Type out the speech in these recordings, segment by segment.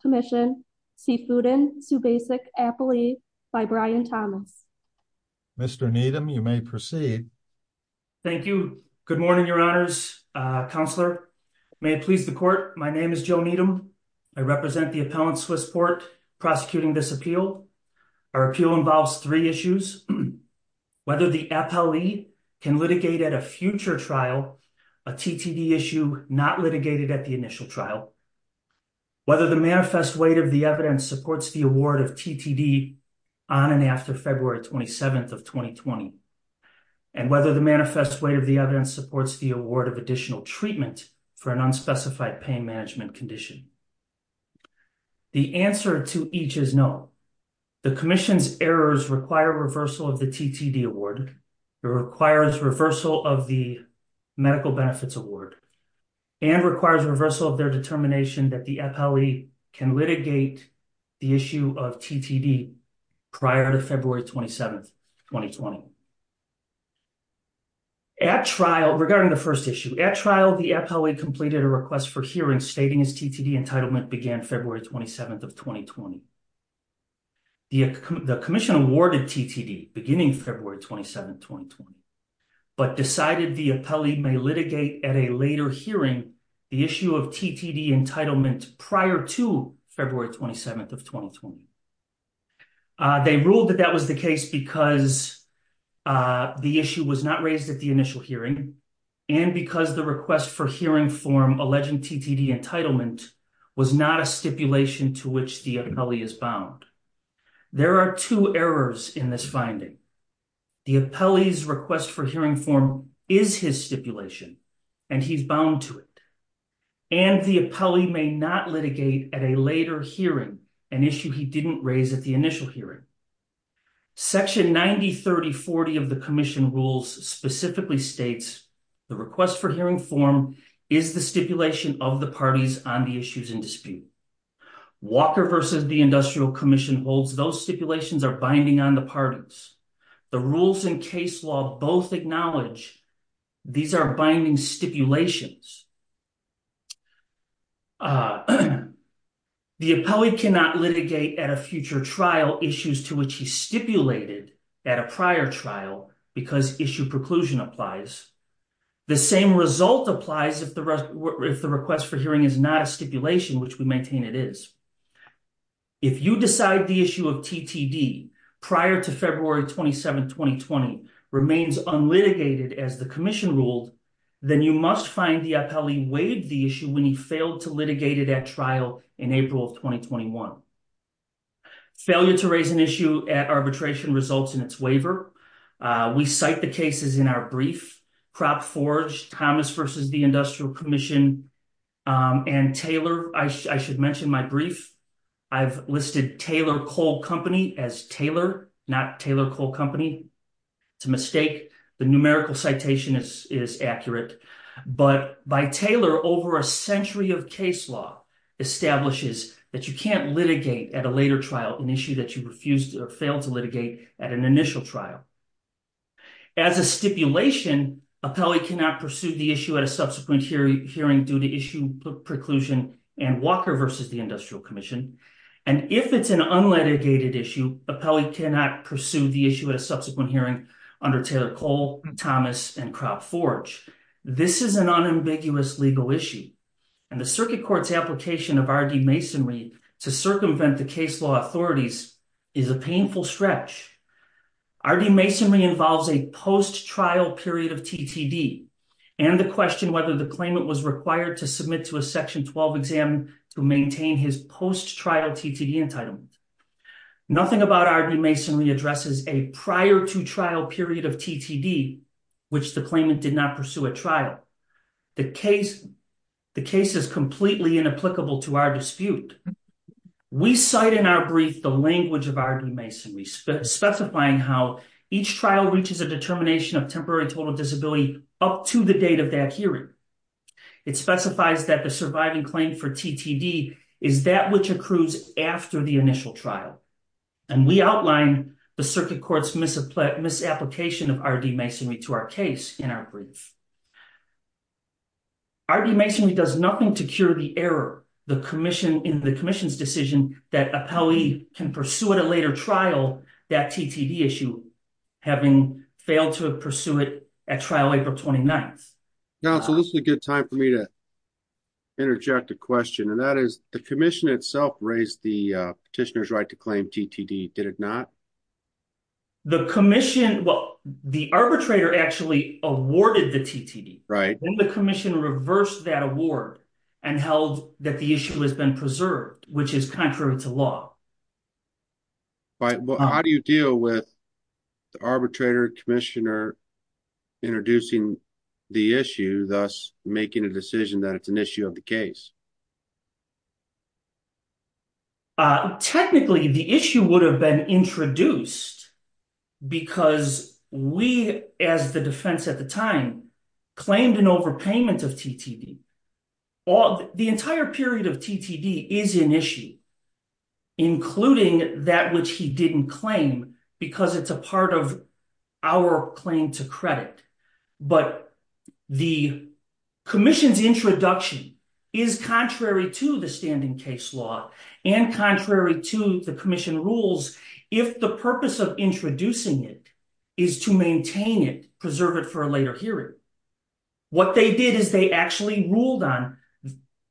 Commission, Cfoodin, Subasic, Appley, by Brian Thomas. Mr. Needham, you may proceed. Thank you. Good morning, Your Honors. Thank you. Good morning, Your Honors. May it please the Court, my name is Joe Needham. I represent the appellant, Swiss Port, prosecuting this appeal. Our appeal involves three issues. Whether the appellee can litigate at a future trial, a TTD issue not litigated at the initial trial. Whether the manifest weight of the evidence supports the award of TTD on and after February 27th of 2020. And whether the manifest weight of the evidence supports the unspecified pain management condition. The answer to each is no. The Commission's errors require reversal of the TTD award. It requires reversal of the medical benefits award. And requires reversal of their determination that the appellee can litigate the issue of TTD prior to February 27th, 2020. At trial, regarding the first issue. At trial, the appellee completed a request for hearing stating his TTD entitlement began February 27th of 2020. The Commission awarded TTD beginning February 27th, 2020. But decided the appellee may litigate at a later hearing the issue of TTD entitlement prior to February 27th of 2020. They ruled that that was the case because the issue was not raised at the initial hearing and because the request for hearing form alleging TTD entitlement was not a stipulation to which the appellee is bound. There are two errors in this finding. The appellee's request for hearing form is his stipulation and he's bound to it. And the appellee may not litigate at a later hearing an issue he didn't raise at the initial hearing. Section 903040 of the Commission rules specifically states the request for hearing form is the stipulation of the parties on the issues in dispute. Walker versus the Industrial Commission holds those stipulations are binding on the parties. The rules in case law both acknowledge these are binding stipulations. The appellee cannot litigate at a future trial issues to which he stipulated at a prior trial because issue preclusion applies. The same result applies if the request for hearing is not a stipulation, which we maintain it is. If you decide the issue of TTD prior to February 27, 2020 remains unlitigated as the Commission ruled, then you must find the appellee waived the issue when he failed to litigate it at trial in April of 2021. Failure to litigate the issue of TTD results in its waiver. We cite the cases in our brief, Crop Forge, Thomas versus the Industrial Commission, and Taylor. I should mention my brief. I've listed Taylor Coal Company as Taylor, not Taylor Coal Company. It's a mistake. The numerical citation is accurate, but by Taylor, over a century of case law establishes that you can't litigate at a later trial an issue that you refused or failed to litigate at an initial trial. As a stipulation, appellee cannot pursue the issue at a subsequent hearing due to issue preclusion and Walker versus the Industrial Commission, and if it's an unlitigated issue, appellee cannot pursue the issue at a subsequent hearing under Taylor Coal, Thomas, and Crop Forge. This is an unambiguous legal issue, and the Circuit Court's application of R.D. Masonry to circumvent the case law authorities is a painful stretch. R.D. Masonry involves a post-trial period of TTD, and the question whether the claimant was required to submit to a Section 12 exam to maintain his post-trial TTD entitlement. Nothing about R.D. Masonry addresses a prior-to-trial period of TTD, which the claimant did not pursue at trial. The case is completely inapplicable to our dispute. We cite in our brief the language of R.D. Masonry specifying how each trial reaches a determination of temporary total disability up to the date of that hearing. It specifies that the surviving claim for TTD is that which accrues after the initial trial, and we outline the Circuit Court's misapplication of R.D. Masonry to our case in our brief. R.D. Masonry does nothing to cure the error in the Commission's decision that an appellee can pursue at a later trial that TTD issue, having failed to pursue it at trial April 29. Council, this is a good time for me to interject a question, and that is, the Commission itself raised the petitioner's right to claim TTD, did it not? The Commission Well, the arbitrator actually awarded the TTD. Then the Commission reversed that award and held that the issue has been preserved, which is contrary to law. How do you deal with the arbitrator, Commissioner introducing the issue, thus making a decision that it's an issue of the case? Technically the issue would have been introduced because we, as the defense at the time, claimed an overpayment of TTD. The entire period of TTD is an issue, including that which he didn't claim, because it's a part of our claim to credit. But the Commission's introduction is contrary to the standing case law, and contrary to the Commission rules, if the purpose of introducing it is to maintain it, preserve it for a later hearing. What they did is they actually ruled on,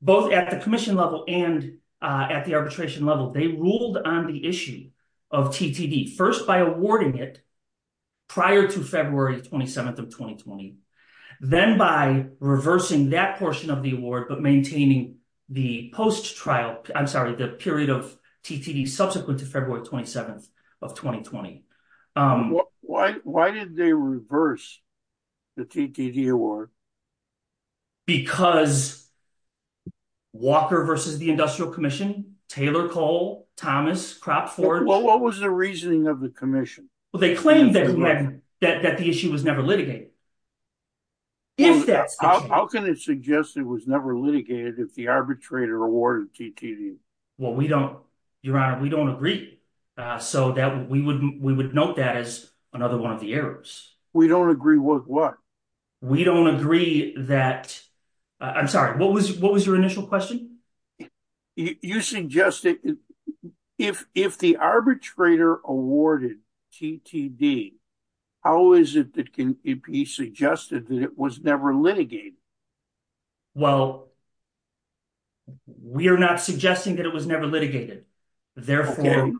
both at the Commission level and at the arbitration level, they ruled on the issue of TTD, first by awarding it prior to February 27th of 2020, then by reversing that portion of the award, but maintaining the post-trial, I'm sorry, the prior to February 27th of 2020. Why did they reverse the TTD award? Because Walker versus the Industrial Commission, Taylor, Cole, Thomas, Cropford... What was the reasoning of the Commission? Well, they claimed that the issue was never litigated. How can it suggest it was never litigated if the arbitrator awarded TTD? Well, we don't... Your Honor, we don't agree, so that we would note that as another one of the errors. We don't agree with what? We don't agree that... I'm sorry, what was your initial question? You suggested if the arbitrator awarded TTD, how is it that can it be suggested that it was never litigated? Well, we are not suggesting that it was never litigated. Therefore...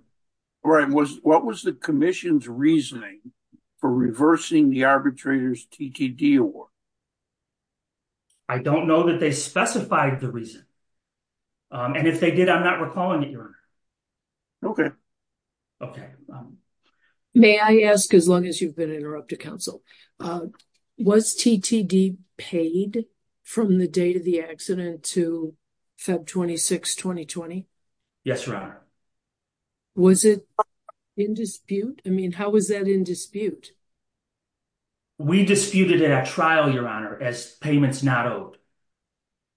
What was the Commission's reasoning for reversing the arbitrator's TTD award? I don't know that they specified the reason. And if they did, I'm not recalling it, Your Honor. Okay. May I ask, as long as you've been interrupted, Counsel, was TTD paid from the date of the accident to Feb 26, 2020? Yes, Your Honor. Was it in dispute? I mean, how was that in dispute? We disputed it at trial, Your Honor, as payments not owed.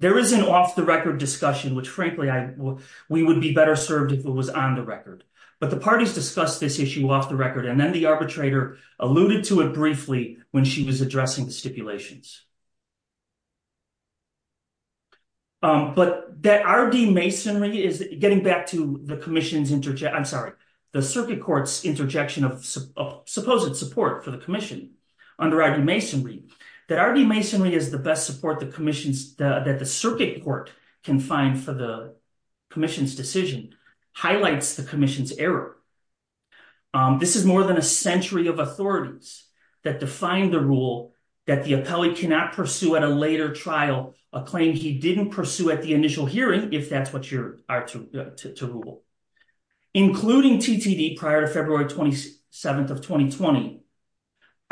There is an off-the-record discussion which, frankly, we would be better served if it was on the record. But the parties discussed this issue off-the-record and then the arbitrator alluded to it briefly when she was addressing the stipulations. But that R.D. Masonry is... Getting back to the Commission's interjection... I'm sorry, the Circuit Court's interjection of supposed support for the Commission under R.D. Masonry, that R.D. Masonry is the best support the Commission's... that the Circuit Court can find for the Commission's decision highlights the Commission's error. This is more than a century of authorities that define the rule that the appellee cannot pursue at a later trial, a claim he didn't pursue at the initial hearing, if that's what you are to rule. Including TTD prior to February 27th of 2020,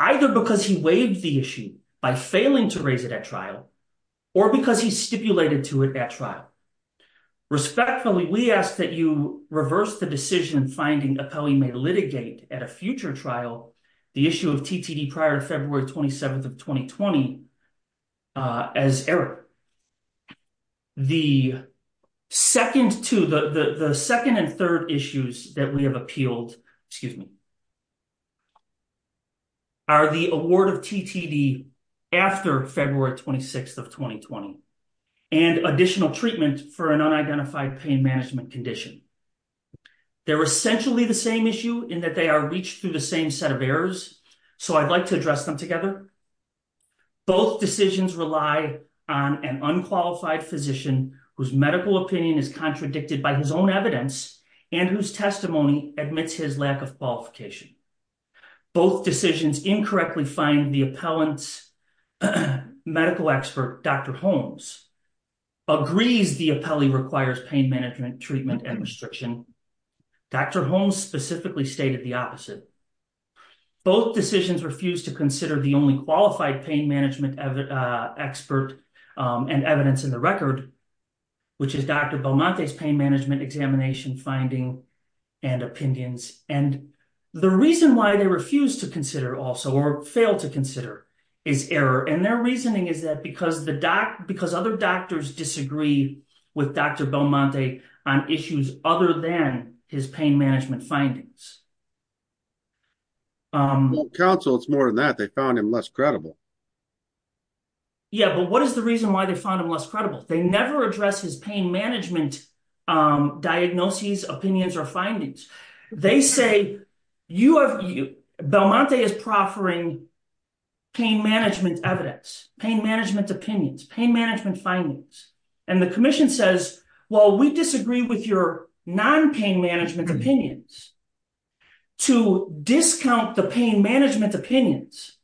either because he waived the issue by failing to raise it at trial, or because he stipulated to it at trial. Respectfully, we ask that you reverse the decision finding appellee may litigate at a TTD prior to February 27th of 2020 as error. The second and third issues that we have appealed excuse me are the award of TTD after February 26th of 2020 and additional treatment for an unidentified pain management condition. They're essentially the same issue in that they are reached through the same set of errors, so I'd like to address them together. Both decisions rely on an unqualified physician whose medical opinion is contradicted by his own evidence and whose testimony admits his lack of qualification. Both decisions incorrectly find the appellant's medical expert, Dr. Holmes, agrees the appellee requires pain management treatment and restriction. Dr. Holmes specifically stated the opposite. Both decisions refuse to consider the only qualified pain management expert and evidence in the record, which is Dr. Belmonte's pain management examination finding and opinions. The reason why they refuse to consider also or fail to consider is error, and their reasoning is that because other doctors disagree with Dr. Belmonte on issues other than his pain management findings. Well, counsel, it's more than that. They found him less credible. Yeah, but what is the reason why they found him less credible? They never address his pain management diagnoses, opinions, or findings. They say, Belmonte is proffering pain management evidence, pain management opinions, pain management findings, and the commission says, well, we disagree with your non-pain management opinions. To discount the pain management opinions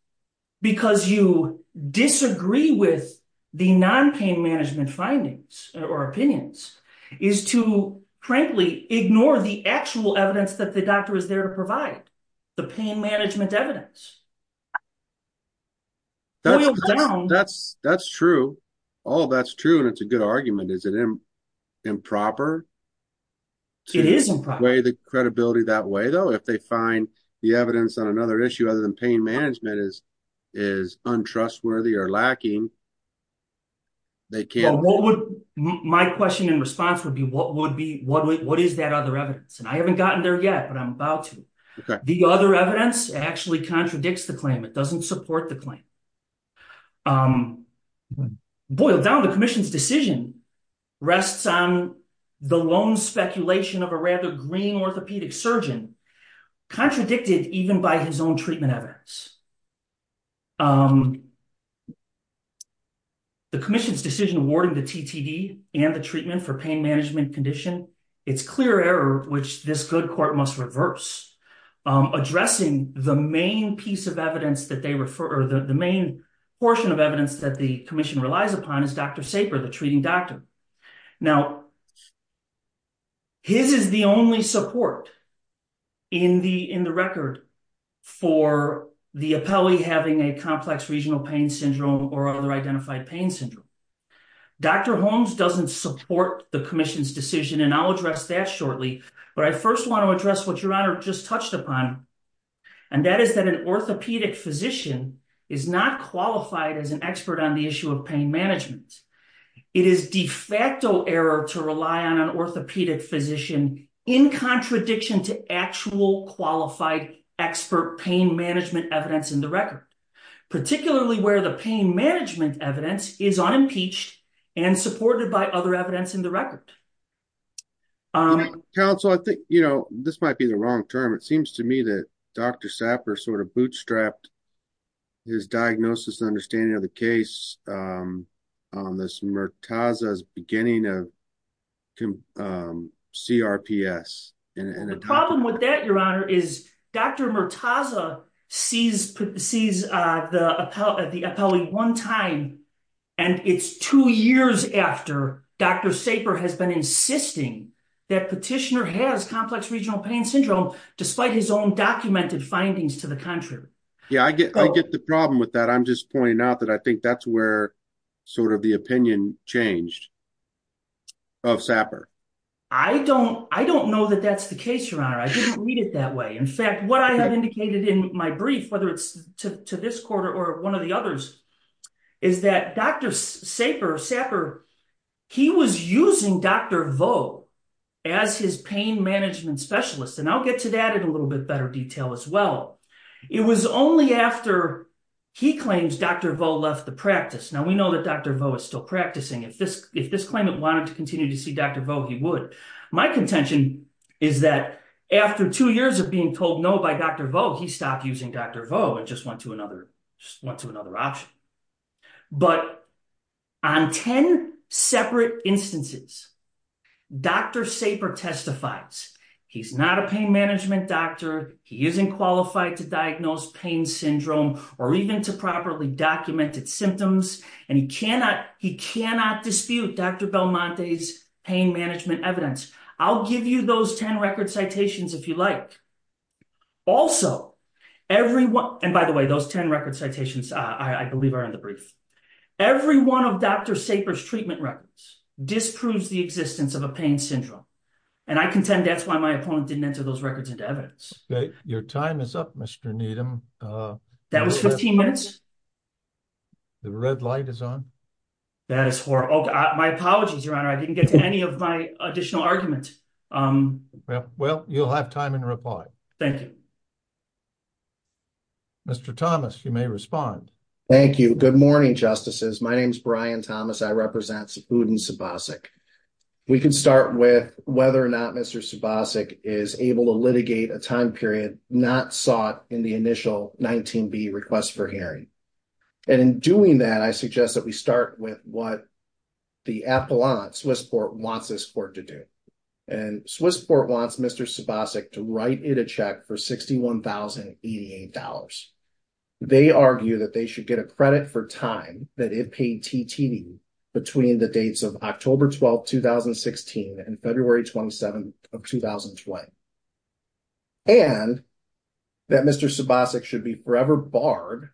because you disagree with the non-pain management findings or opinions is to, frankly, ignore the actual evidence that the doctor is there to provide, the pain management evidence. That's true. All that's true, and it's a good argument. Is it improper to weigh the credibility that way, though, if they find the evidence on another issue other than pain management is untrustworthy or lacking? My question and response would be, what is that other evidence? I haven't gotten there yet, but I'm about to. The other evidence actually contradicts the claim. It doesn't support the claim. Boiled down, the commission's decision rests on the lone speculation of a rather green orthopedic surgeon contradicted even by his own treatment evidence. The commission's decision awarding the TTD and the treatment for pain management condition, it's clear error which this good court must reverse, addressing the main piece of evidence that they refer, or the main portion of evidence that the commission relies upon is Dr. Saper, the treating doctor. Now, his is the only support in the record for the appellee having a complex regional pain syndrome or other identified pain syndrome. Dr. Holmes doesn't support the commission's decision, and I'll address that shortly, but I first want to address what Your Honor just touched upon, and that is that an orthopedic physician is not qualified as an expert on the issue of pain management. It is de facto error to rely on an orthopedic physician in contradiction to actual qualified expert pain management evidence in the record, particularly where the pain management evidence is unimpeached and supported by other evidence in the record. Counsel, I think, you know, this might be the wrong term. It seems to me that Dr. Saper sort of bootstrapped his diagnosis and understanding of the case on this Murtaza's beginning of CRPS. The problem with that, Your Honor, is Dr. Murtaza sees the appellee one time, and it's two years after Dr. Saper has been insisting that petitioner has complex regional pain syndrome, despite his own documented findings to the contrary. I get the problem with that. I'm just pointing out that I think that's where sort of the opinion changed of Saper. I don't know that that's the case, Your Honor. I didn't read it that way. In fact, what I have indicated in my brief, whether it's to this quarter or one of the others, is that Dr. Saper was using Dr. Vo as his pain management specialist. I'll get to that in a little bit better detail as well. It was only after he claims Dr. Vo left the practice. Now, we know that Dr. Vo is still practicing. If this claimant wanted to continue to see Dr. Vo, he would. My contention is that after two years of being told no by Dr. Vo, he stopped using Dr. Vo and just went to another option. But on ten separate instances, Dr. Saper testifies he's not a pain management doctor, he isn't qualified to diagnose pain syndrome, or even to properly document its symptoms, and he cannot dispute Dr. Belmonte's pain management evidence. I'll give you those ten record citations if you like. Also, and by the way, those ten record citations, I believe, are in the brief. Every one of Dr. Saper's treatment records disproves the existence of a pain syndrome. And I contend that's why my opponent didn't enter those records into evidence. Okay. Your time is up, Mr. Needham. That was 15 minutes? The red light is on. That is horrible. My apologies, Your Honor. I didn't get to any of my additional argument. Well, you'll have time in reply. Thank you. Mr. Thomas, you may respond. Thank you. Good morning, Justices. My name is Brian Thomas. I represent Sipud and Sibosik. We can start with whether or not Mr. Sibosik is able to litigate a time period not sought in the initial 19B request for hearing. And in doing that, I suggest that we start with what the Swiss Court wants this Court to do. And Swiss Court wants Mr. Sibosik to write it a check for $61,088. They argue that they should get a credit for time that it paid TTD between the dates of October 12, 2016 and February 27, 2020. And that Mr. Sibosik should be forever barred.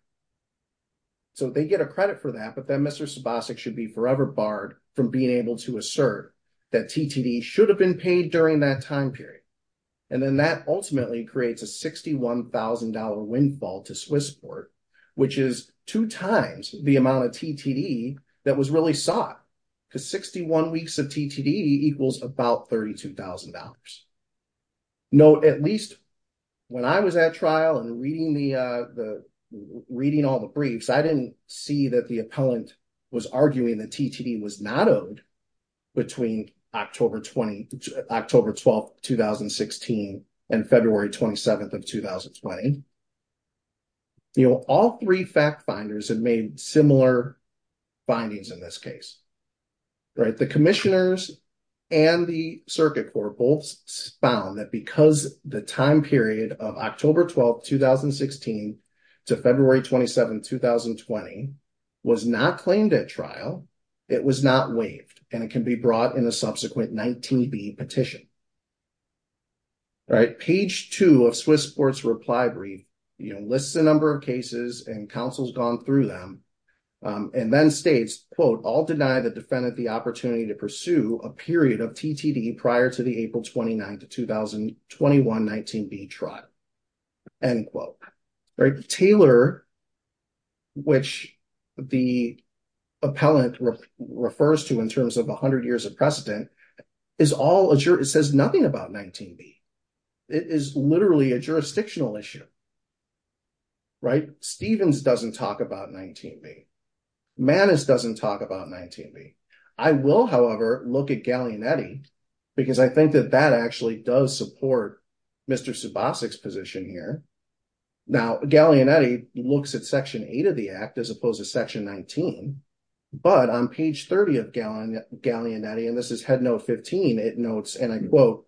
So they get a credit for that, but then Mr. Sibosik should be forever barred from being able to assert that TTD should have been paid during that time period. And then that ultimately creates a $61,000 windfall to Swiss Court, which is two times the amount of TTD that was really sought, because 61 weeks of TTD equals about $32,000. Note, at least when I was at trial and reading all the briefs, I didn't see that the appellant was arguing that TTD was not owed between October 12, 2016 and February 27, 2020. All three fact finders have made similar findings in this case. The commissioners and the Circuit Court both found that because the time period of October 12, 2016 to February 27, 2020 was not claimed at trial, it was not waived and it can be brought in a subsequent 19B petition. Page 2 of Swiss Court's reply brief lists the number of cases and counsels gone through them and then states, quote, all deny the defendant the opportunity to pursue a period of TTD prior to the April 29 to 2021 19B trial. End quote. Taylor, which the appellant refers to in terms of 100 years of precedent, says nothing about 19B. It is literally a jurisdictional issue. Right? Stevens doesn't talk about 19B. Manis doesn't talk about 19B. I will, however, look at Gallianetti because I think that that actually does support Mr. Subosik's position here. Now, Gallianetti looks at Section 8 of the Act as opposed to Section 19 but on page 30 of Gallianetti, and this is Head Note 15, it notes, and I quote,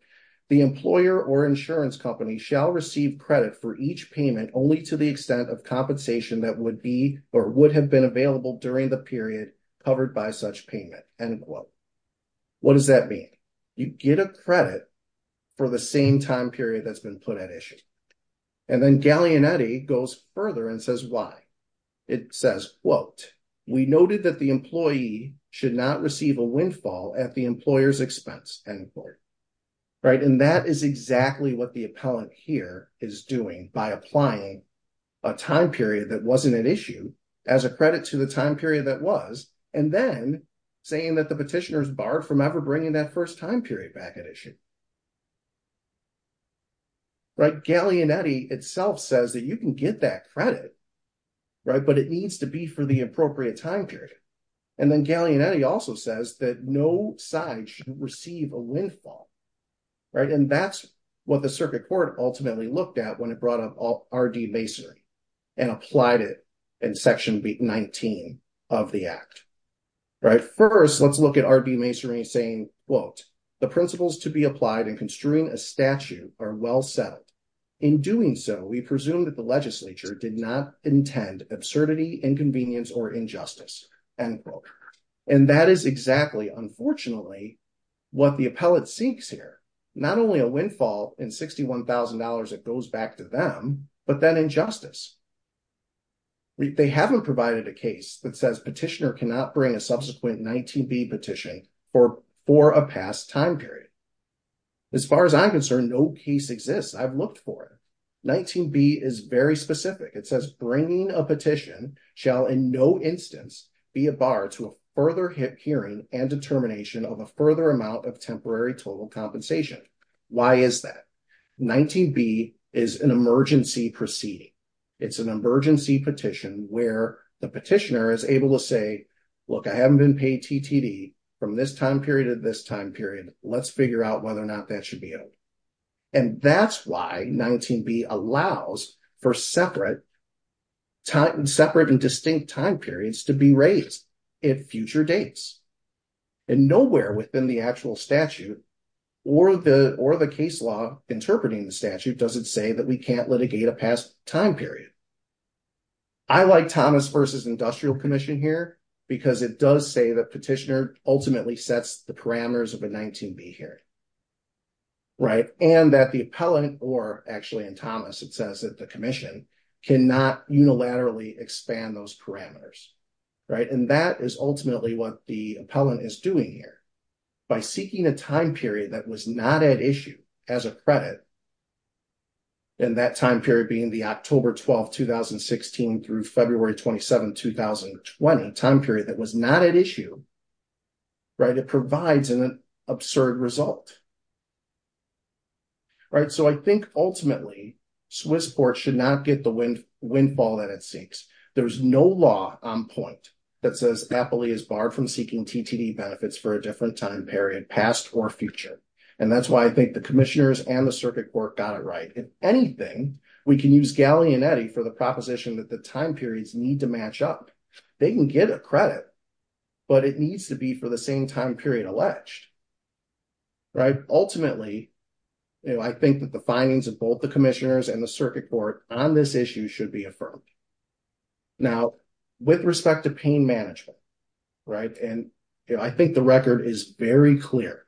the employer or insurance company shall receive credit for each payment only to the extent of compensation that would be or would have been available during the period covered by such payment. End quote. What does that mean? You get a credit for the same time period that's been put at issue. And then Gallianetti goes further and says why. It says, quote, we noted that the employee should not receive a windfall at the employer's expense. End quote. Right? And that is exactly what the appellant here is doing by applying a time period that wasn't at issue as a credit to the time period that was and then saying that the petitioner is barred from ever bringing that first time period back at issue. Right? Gallianetti itself says that you can get that credit, right, but it needs to be for the appropriate time period. And then Gallianetti also says that no side should receive a windfall. Right? And that's what the circuit court ultimately looked at when it brought up R.D. Masery and applied it in Section 19 of the Act. Right? First, let's look at R.D. Masery saying, quote, the principles to be applied in construing a statute are well settled. In doing so, we presume that the legislature did not intend absurdity, inconvenience, or injustice. End quote. And that is exactly, unfortunately, what the appellate seeks here. Not only a windfall in $61,000 that goes back to them, but then injustice. They haven't provided a case that says petitioner cannot bring a subsequent 19B petition for a past time period. As far as I'm concerned, no case exists. I've looked for it. 19B is very specific. It says bringing a petition shall in no instance be a bar to a further hearing and determination of a further amount of temporary total compensation. Why is that? 19B is an emergency proceeding. It's an emergency petition where the petitioner is able to say, look, I haven't been paid TTD from this time period to this time period. Let's figure out whether or not that should be held. And that's why 19B allows for separate and distinct time periods to be raised at future dates. And nowhere within the actual statute or the case law interpreting the statute does it say that we can't litigate a past time period. I like Thomas v. Industrial Commission here because it does say that petitioner ultimately sets the parameters of a 19B hearing. And that the appellant, or actually in Thomas it says that the commission cannot unilaterally expand those parameters. That is ultimately what the appellant is doing here. By seeking a time period that was not at issue as a credit, and that time period being the October 12, 2016 through February 27, 2020 time period that was not at issue, it provides an absurd result. So I think ultimately Swiss courts should not get the windfall that it seeks. There's no law on point that says appellee is barred from seeking TTD benefits for a different time period, past or future. And that's why I think the commissioners and the circuit court got it right. If anything, we can use Galli and Eddy for the proposition that the time periods need to match up. They can get a credit, but it needs to be for the same time period alleged. Ultimately, I think that the findings of both the commissioners and the circuit court on this issue should be affirmed. Now, with respect to pain management, I think the record is very clear.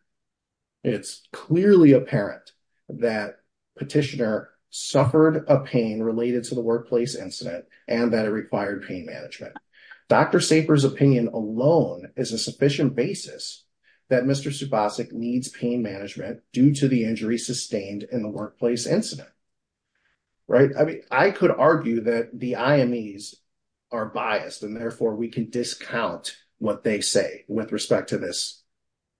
It's clearly apparent that petitioner suffered a pain related to the workplace incident, and that it required pain management. Dr. Saper's opinion alone is a sufficient basis that Mr. Subasik needs pain management due to the injury sustained in the workplace incident. I could argue that the IMEs are biased and therefore we can discount what they say with respect to this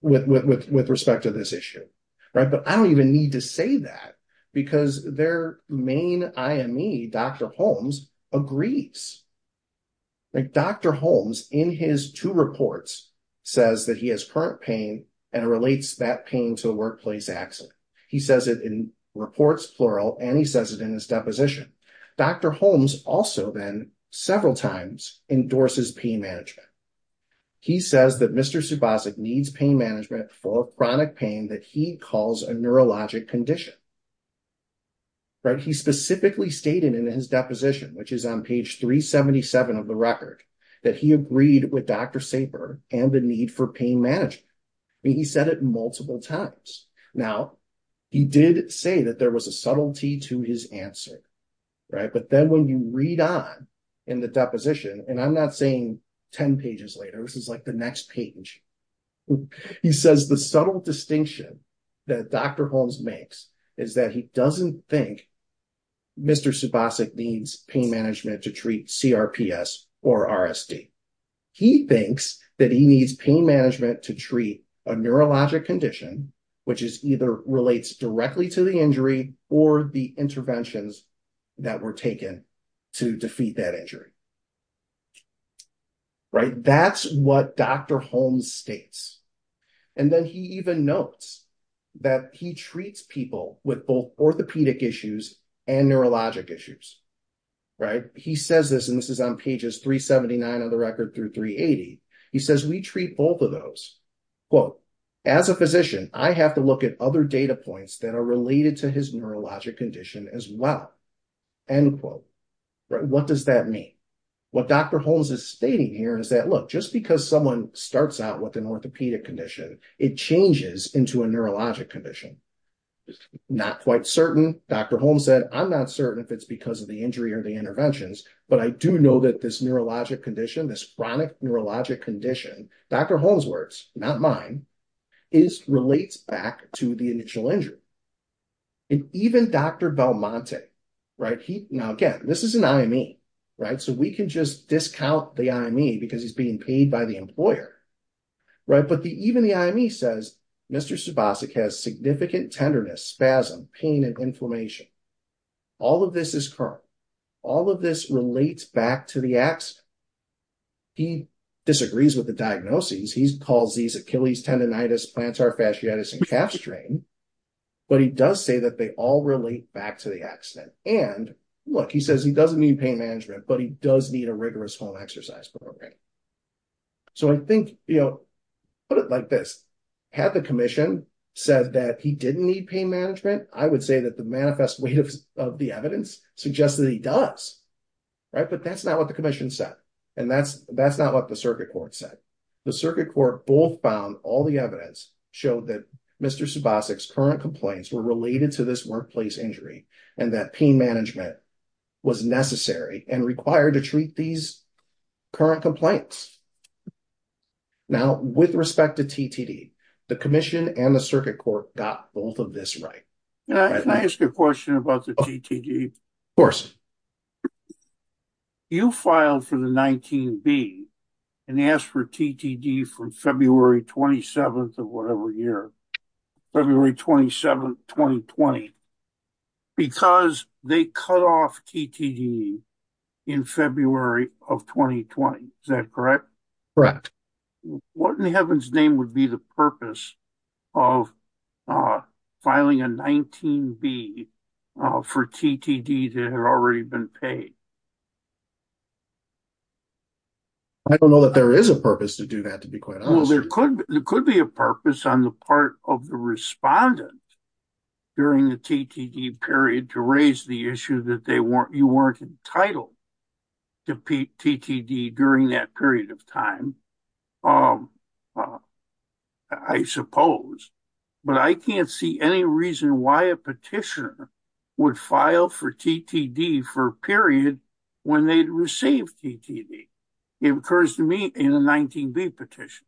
with respect to this issue. But I don't even need to say that because their main IME, Dr. Holmes, agrees. Dr. Holmes, in his two reports, says that he has current pain and relates that pain to the workplace accident. He says it in reports plural and he says it in his deposition. Dr. Holmes also then several times endorses pain management. He says that Mr. Subasik needs pain management for chronic pain that he calls a neurologic condition. He specifically stated in his deposition, which is on page 377 of the record, that he agreed with Dr. Saper and the need for pain management. He said it multiple times. Now, he did say that there was a subtlety to his answer. But then when you read on in the deposition, and I'm not saying 10 pages later, this is like the next page, he says the subtle distinction that Dr. Holmes makes is that he doesn't think Mr. Subasik needs pain management to treat CRPS or RSD. He thinks that he needs pain management to treat a neurologic condition, which is either relates directly to the injury or the interventions that were taken to defeat that injury. That's what Dr. Holmes states. And then he even notes that he treats people with both orthopedic issues and neurologic issues. He says this, and this is on pages 379 of the record through 380. He says, we treat both of those. As a physician, I have to look at other data points that are related to his neurologic condition as well. What does that mean? What Dr. Holmes is stating here is that, look, just because someone starts out with an orthopedic condition, it changes into a neurologic condition. Not quite certain. Dr. Holmes said, I'm not certain if it's because of the injury or the interventions, but I do know that this neurologic condition, this chronic neurologic condition, Dr. Holmes' words, not mine, is relates back to the initial injury. And even Dr. Belmonte, right, he, now again, this is an IME, right, so we can just discount the IME because he's being paid by the employer, right, but even the IME says Mr. Subosik has significant tenderness, spasm, pain, and inflammation. All of this is current. All of this relates back to the accident. He disagrees with the diagnoses. He calls these Achilles tendonitis, plantar fasciitis, and calf strain, but he does say that they all relate back to the accident. And, look, he says he doesn't need pain management, but he does need a rigorous home exercise program. So I think, you know, put it like this. Had the commission said that he didn't need pain management, I would say that the manifest weight of the evidence suggests that he does, right, but that's not what the commission said. And that's not what the circuit court said. The circuit court both found all the evidence showed that Mr. Subosik's current complaints were related to this workplace injury and that pain management was necessary and required to treat these current complaints. Now, with respect to TTD, the commission and the circuit court got both of this right. Can I ask a question about the TTD? Of course. You filed for the 19B and asked for TTD from February 27th of whatever year, February 27th 2020, because they cut off TTD in February of 2020. Is that correct? Correct. What in heaven's name would be the purpose of filing a 19B for TTD that had already been paid? I don't know that there is a purpose to do that, to be quite honest. There could be a purpose on the part of the TTD period to raise the issue that you weren't entitled to TTD during that period of time, I suppose. But I can't see any reason why a petitioner would file for TTD for a period when they'd received TTD. It occurs to me in a 19B petition.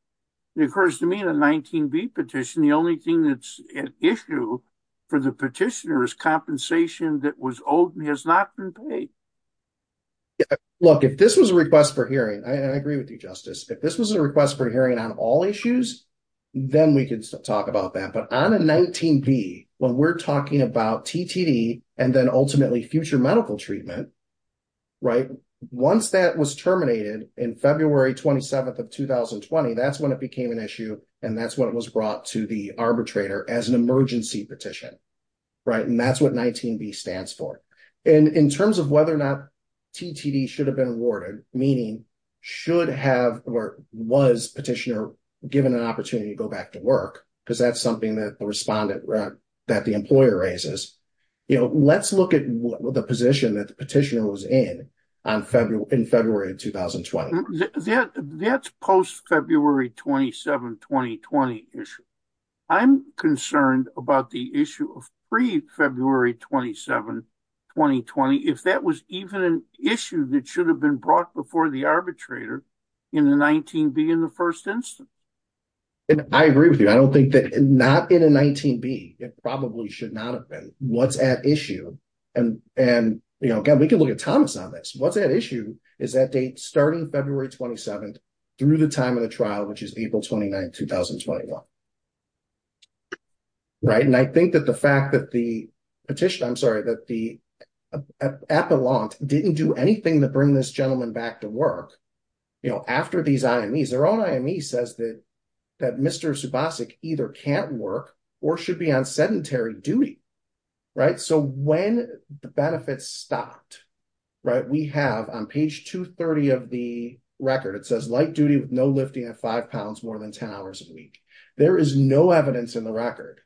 It occurs to me in a 19B petition, the only thing that's an issue for the petitioner is compensation that was owed and has not been paid. Look, if this was a request for hearing, and I agree with you, Justice, if this was a request for hearing on all issues, then we could talk about that. But on a 19B, when we're talking about TTD and then ultimately future medical treatment, once that was terminated in February 27th of 2020, that's when it became an issue and that's when it was brought to the arbitrator as an emergency petition. And that's what 19B stands for. And in terms of whether or not TTD should have been awarded, meaning should have or was petitioner given an opportunity to go back to work, because that's something that the respondent that the employer raises, let's look at the position that the petitioner was in in February 2020. That's post February 27, 2020 issue. I'm concerned about the issue of pre-February 27, 2020, if that was even an issue that should have been brought before the arbitrator in the 19B in the first instance. I agree with you. I don't think that, not in a 19B, it probably should not have been. What's at issue, and we can look at Thomas on this, what's at issue is that date starting February 27 through the time of the trial, which is April 29, 2021. And I think that the fact that the petitioner, I'm sorry, that the appellant didn't do anything to bring this gentleman back to work after these IMEs. Their own IME says that Mr. Subasik either can't work or should be on sedentary duty. So when the benefits stopped, we have on page 230 of the record, it says light duty with no lifting at 5 pounds more than 10 hours a week. There is no evidence in the record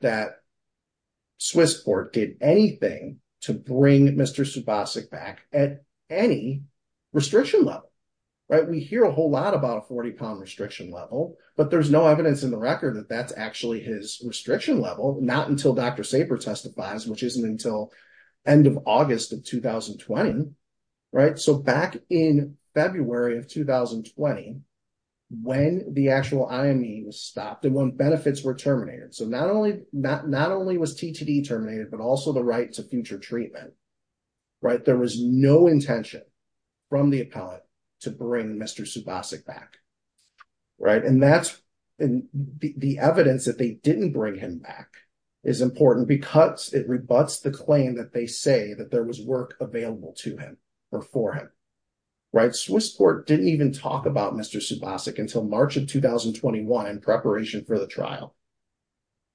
that Swiss Court did anything to bring Mr. Subasik back at any restriction level. We hear a whole lot about a 40 pound restriction level, but there's no evidence in the record that that's actually his restriction level, not until Dr. Saper testifies, which isn't until end of August of 2020. So back in February of 2020, when the actual IME was stopped and when benefits were terminated. So not only was TTD terminated, but also the right to future treatment. There was no intention from the appellant to bring Mr. Subasik back. And that's the evidence that they didn't bring him back is important because it rebuts the claim that they say that there was work available to him or for him. Swiss Court didn't even talk about Mr. Subasik until March of 2021 in preparation for the trial.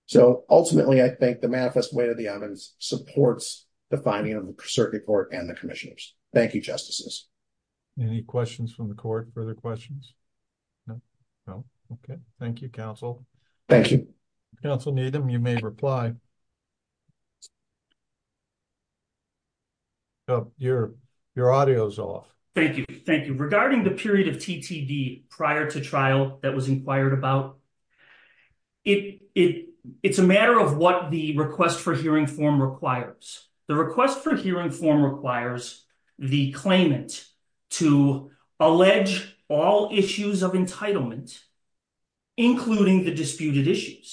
So ultimately, I think the manifest way to the evidence supports the finding of the circuit court and the commissioners. Thank you, Justices. Any questions from the court? Further questions? No? Okay. Thank you, Counsel. Thank you. Counsel Needham, you may reply. Your audio is off. Thank you. Regarding the period of TTD prior to trial that was inquired about, it's a matter of what the request for hearing form requires. The request for hearing form requires the claimant to allege all issues of entitlement, including the 19B.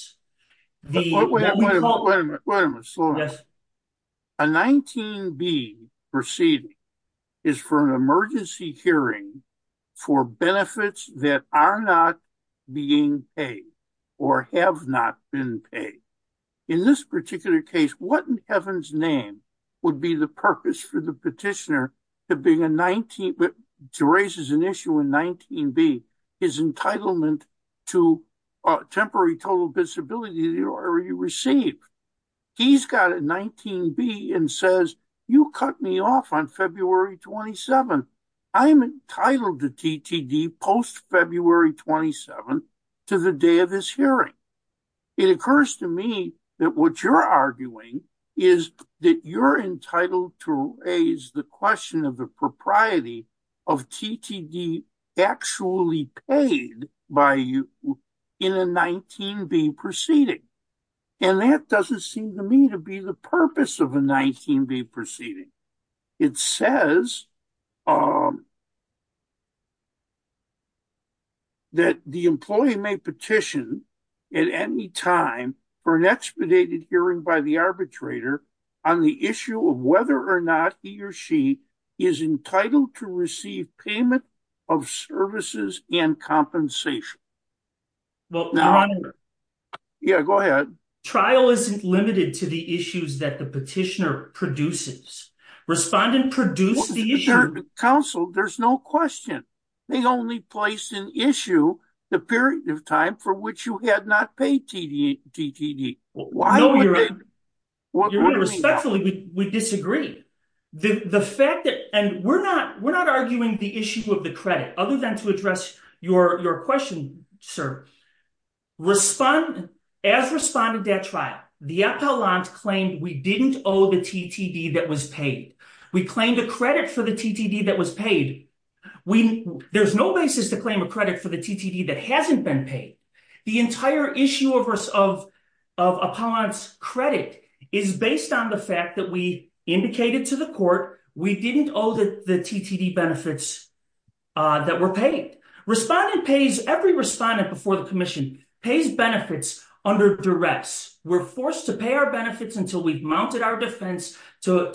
Wait a minute. A 19B proceeding is for an emergency hearing for benefits that are not being paid or have not been paid. In this particular case, what in heaven's name would be the purpose for the petitioner to raise as an issue in 19B his entitlement to temporary total disability that he already received? He's got a 19B and says, you cut me off on February 27. I'm entitled to TTD post February 27 to the day of this hearing. It occurs to me that what you're arguing is that you're entitled to raise the question of the propriety of disability paid by you in a 19B proceeding. And that doesn't seem to me to be the purpose of a 19B proceeding. It says that the employee may petition at any time for an expedited hearing by the arbitrator on the issue of whether or not he or she is entitled to receive payment of services and compensation. Yeah, go ahead. Trial isn't limited to the issues that the petitioner produces. Respondent produced the issue. Counsel, there's no question. They only placed an issue the period of time for which you had not paid TTD. Respectfully, we disagree. We're not arguing the issue of the credit other than to address your question, sir. As respondent at trial, the appellant claimed we didn't owe the TTD that was paid. We claimed a credit for the TTD that was paid. There's no basis to claim a credit for the TTD that hasn't been paid. The entire issue of appellant's credit is based on the fact that we indicated to the court we didn't owe the TTD benefits that were paid. Every respondent before the commission pays benefits under duress. We're forced to pay our benefits until we've mounted our defense to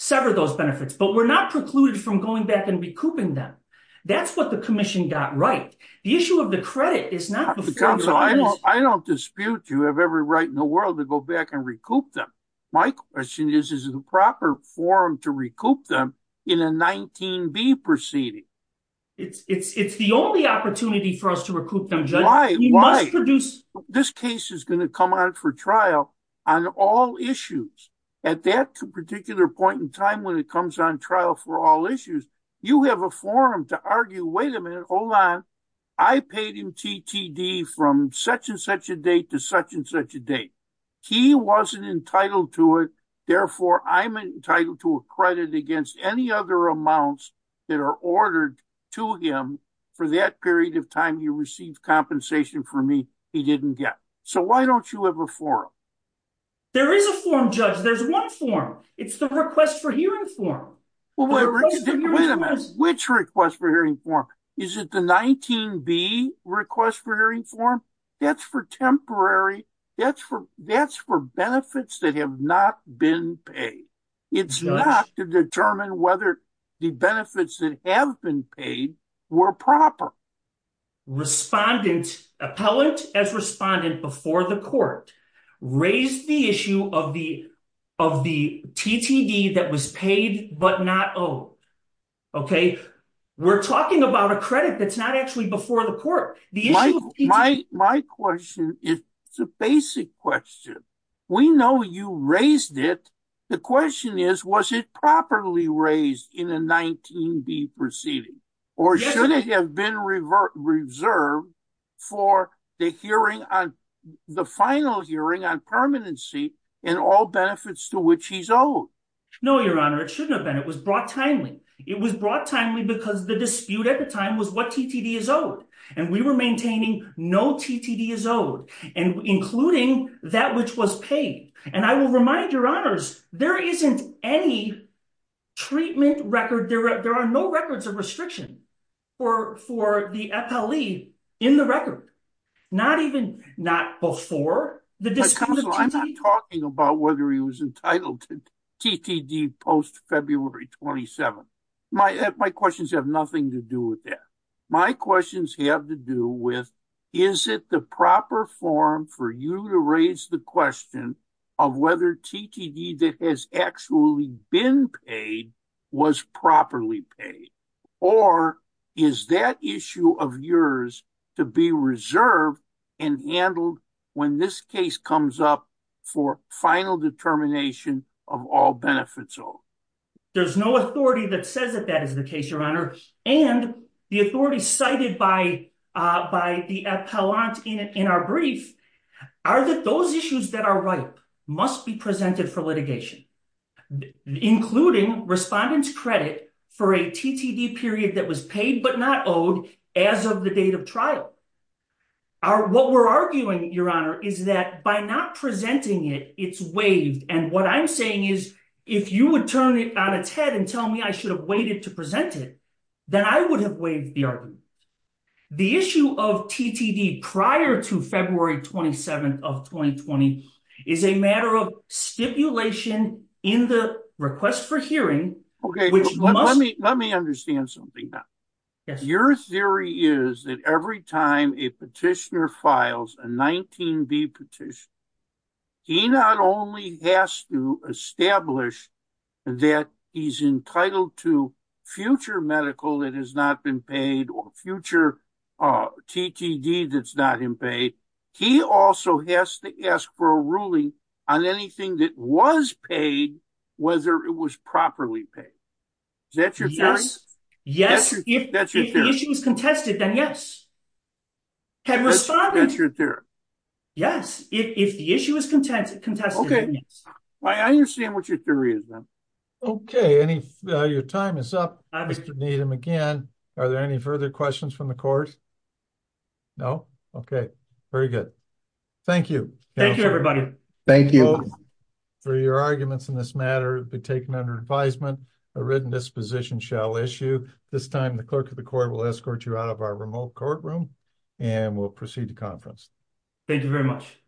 sever those benefits, but we're not precluded from going back and recouping them. That's what the commission got right. The issue of the credit is not before your eyes. Counsel, I don't dispute you have every right in the world to go back and recoup them. My question is, is it a proper forum to recoup them in a 19B proceeding? It's the only opportunity for us to recoup them, Judge. This case is going to come on for trial on all issues. At that particular point in time when it comes on trial for all issues, you have a forum to recoup. I paid him TTD from such-and-such a date to such-and-such a date. He wasn't entitled to it. Therefore, I'm entitled to a credit against any other amounts that are ordered to him for that period of time he received compensation for me he didn't get. So why don't you have a forum? There is a forum, Judge. There's one forum. It's the request for hearing forum. Wait a minute. Which request for hearing forum? Is it the 19B request for hearing forum? That's for temporary. That's for benefits that have not been paid. It's not to determine whether the benefits that have been paid were proper. Respondent, appellate as respondent before the court raised the issue of the TTD that was paid but not owed. We're talking about a credit that's not actually before the court. My question is a basic question. We know you raised it. The question is, was it properly raised in a 19B proceeding? Or should it have been reserved for the hearing on the final hearing on permanency in all benefits to which he's owed? No, Your Honor. It shouldn't have been. It was brought timely. It was brought timely because the dispute at the time was what TTD is owed. We were maintaining no TTD is owed, including that which was paid. I will remind Your Honors, there isn't any treatment record. There are no records of restriction for the appellee in the record. Not even, not before the discussion. Counselor, I'm not talking about whether he was entitled to TTD post-February 27. My questions have nothing to do with that. My questions have to do with, is it the proper form for you to raise the question of whether TTD that has actually been paid was properly paid? Or is that issue of yours to be reserved and handled when this case comes up for final determination of all benefits owed? There's no authority that says that that is the case, Your Honor. And the authority cited by the appellant in our brief are that those issues that are ripe must be presented for litigation, including respondent's credit for a TTD period that was paid but not paid. What we're arguing, Your Honor, is that by not presenting it, it's waived. And what I'm saying is if you would turn it on its head and tell me I should have waited to present it, then I would have waived the argument. The issue of TTD prior to February 27 of 2020 is a matter of stipulation in the request for hearing, which must... Let me understand something. Your theory is that every time a petitioner files a 19B petition, he not only has to establish that he's entitled to future medical that has not been paid or future TTD that's not been paid, he also has to ask for a ruling on anything that was paid, whether it was properly paid. Is that your theory? Yes. If the issue is contested, then yes. Have you responded? Yes. If the issue is contested, then yes. I understand what your theory is, then. Okay. Your time is up, Mr. Needham. Again, are there any further questions from the Court? No? Okay. Very good. Thank you. Thank you, everybody. For your arguments in this matter have been taken under advisement. A written disposition shall issue. This time, the Clerk of the Court will escort you out of our remote courtroom, and we'll proceed to conference. Thank you very much.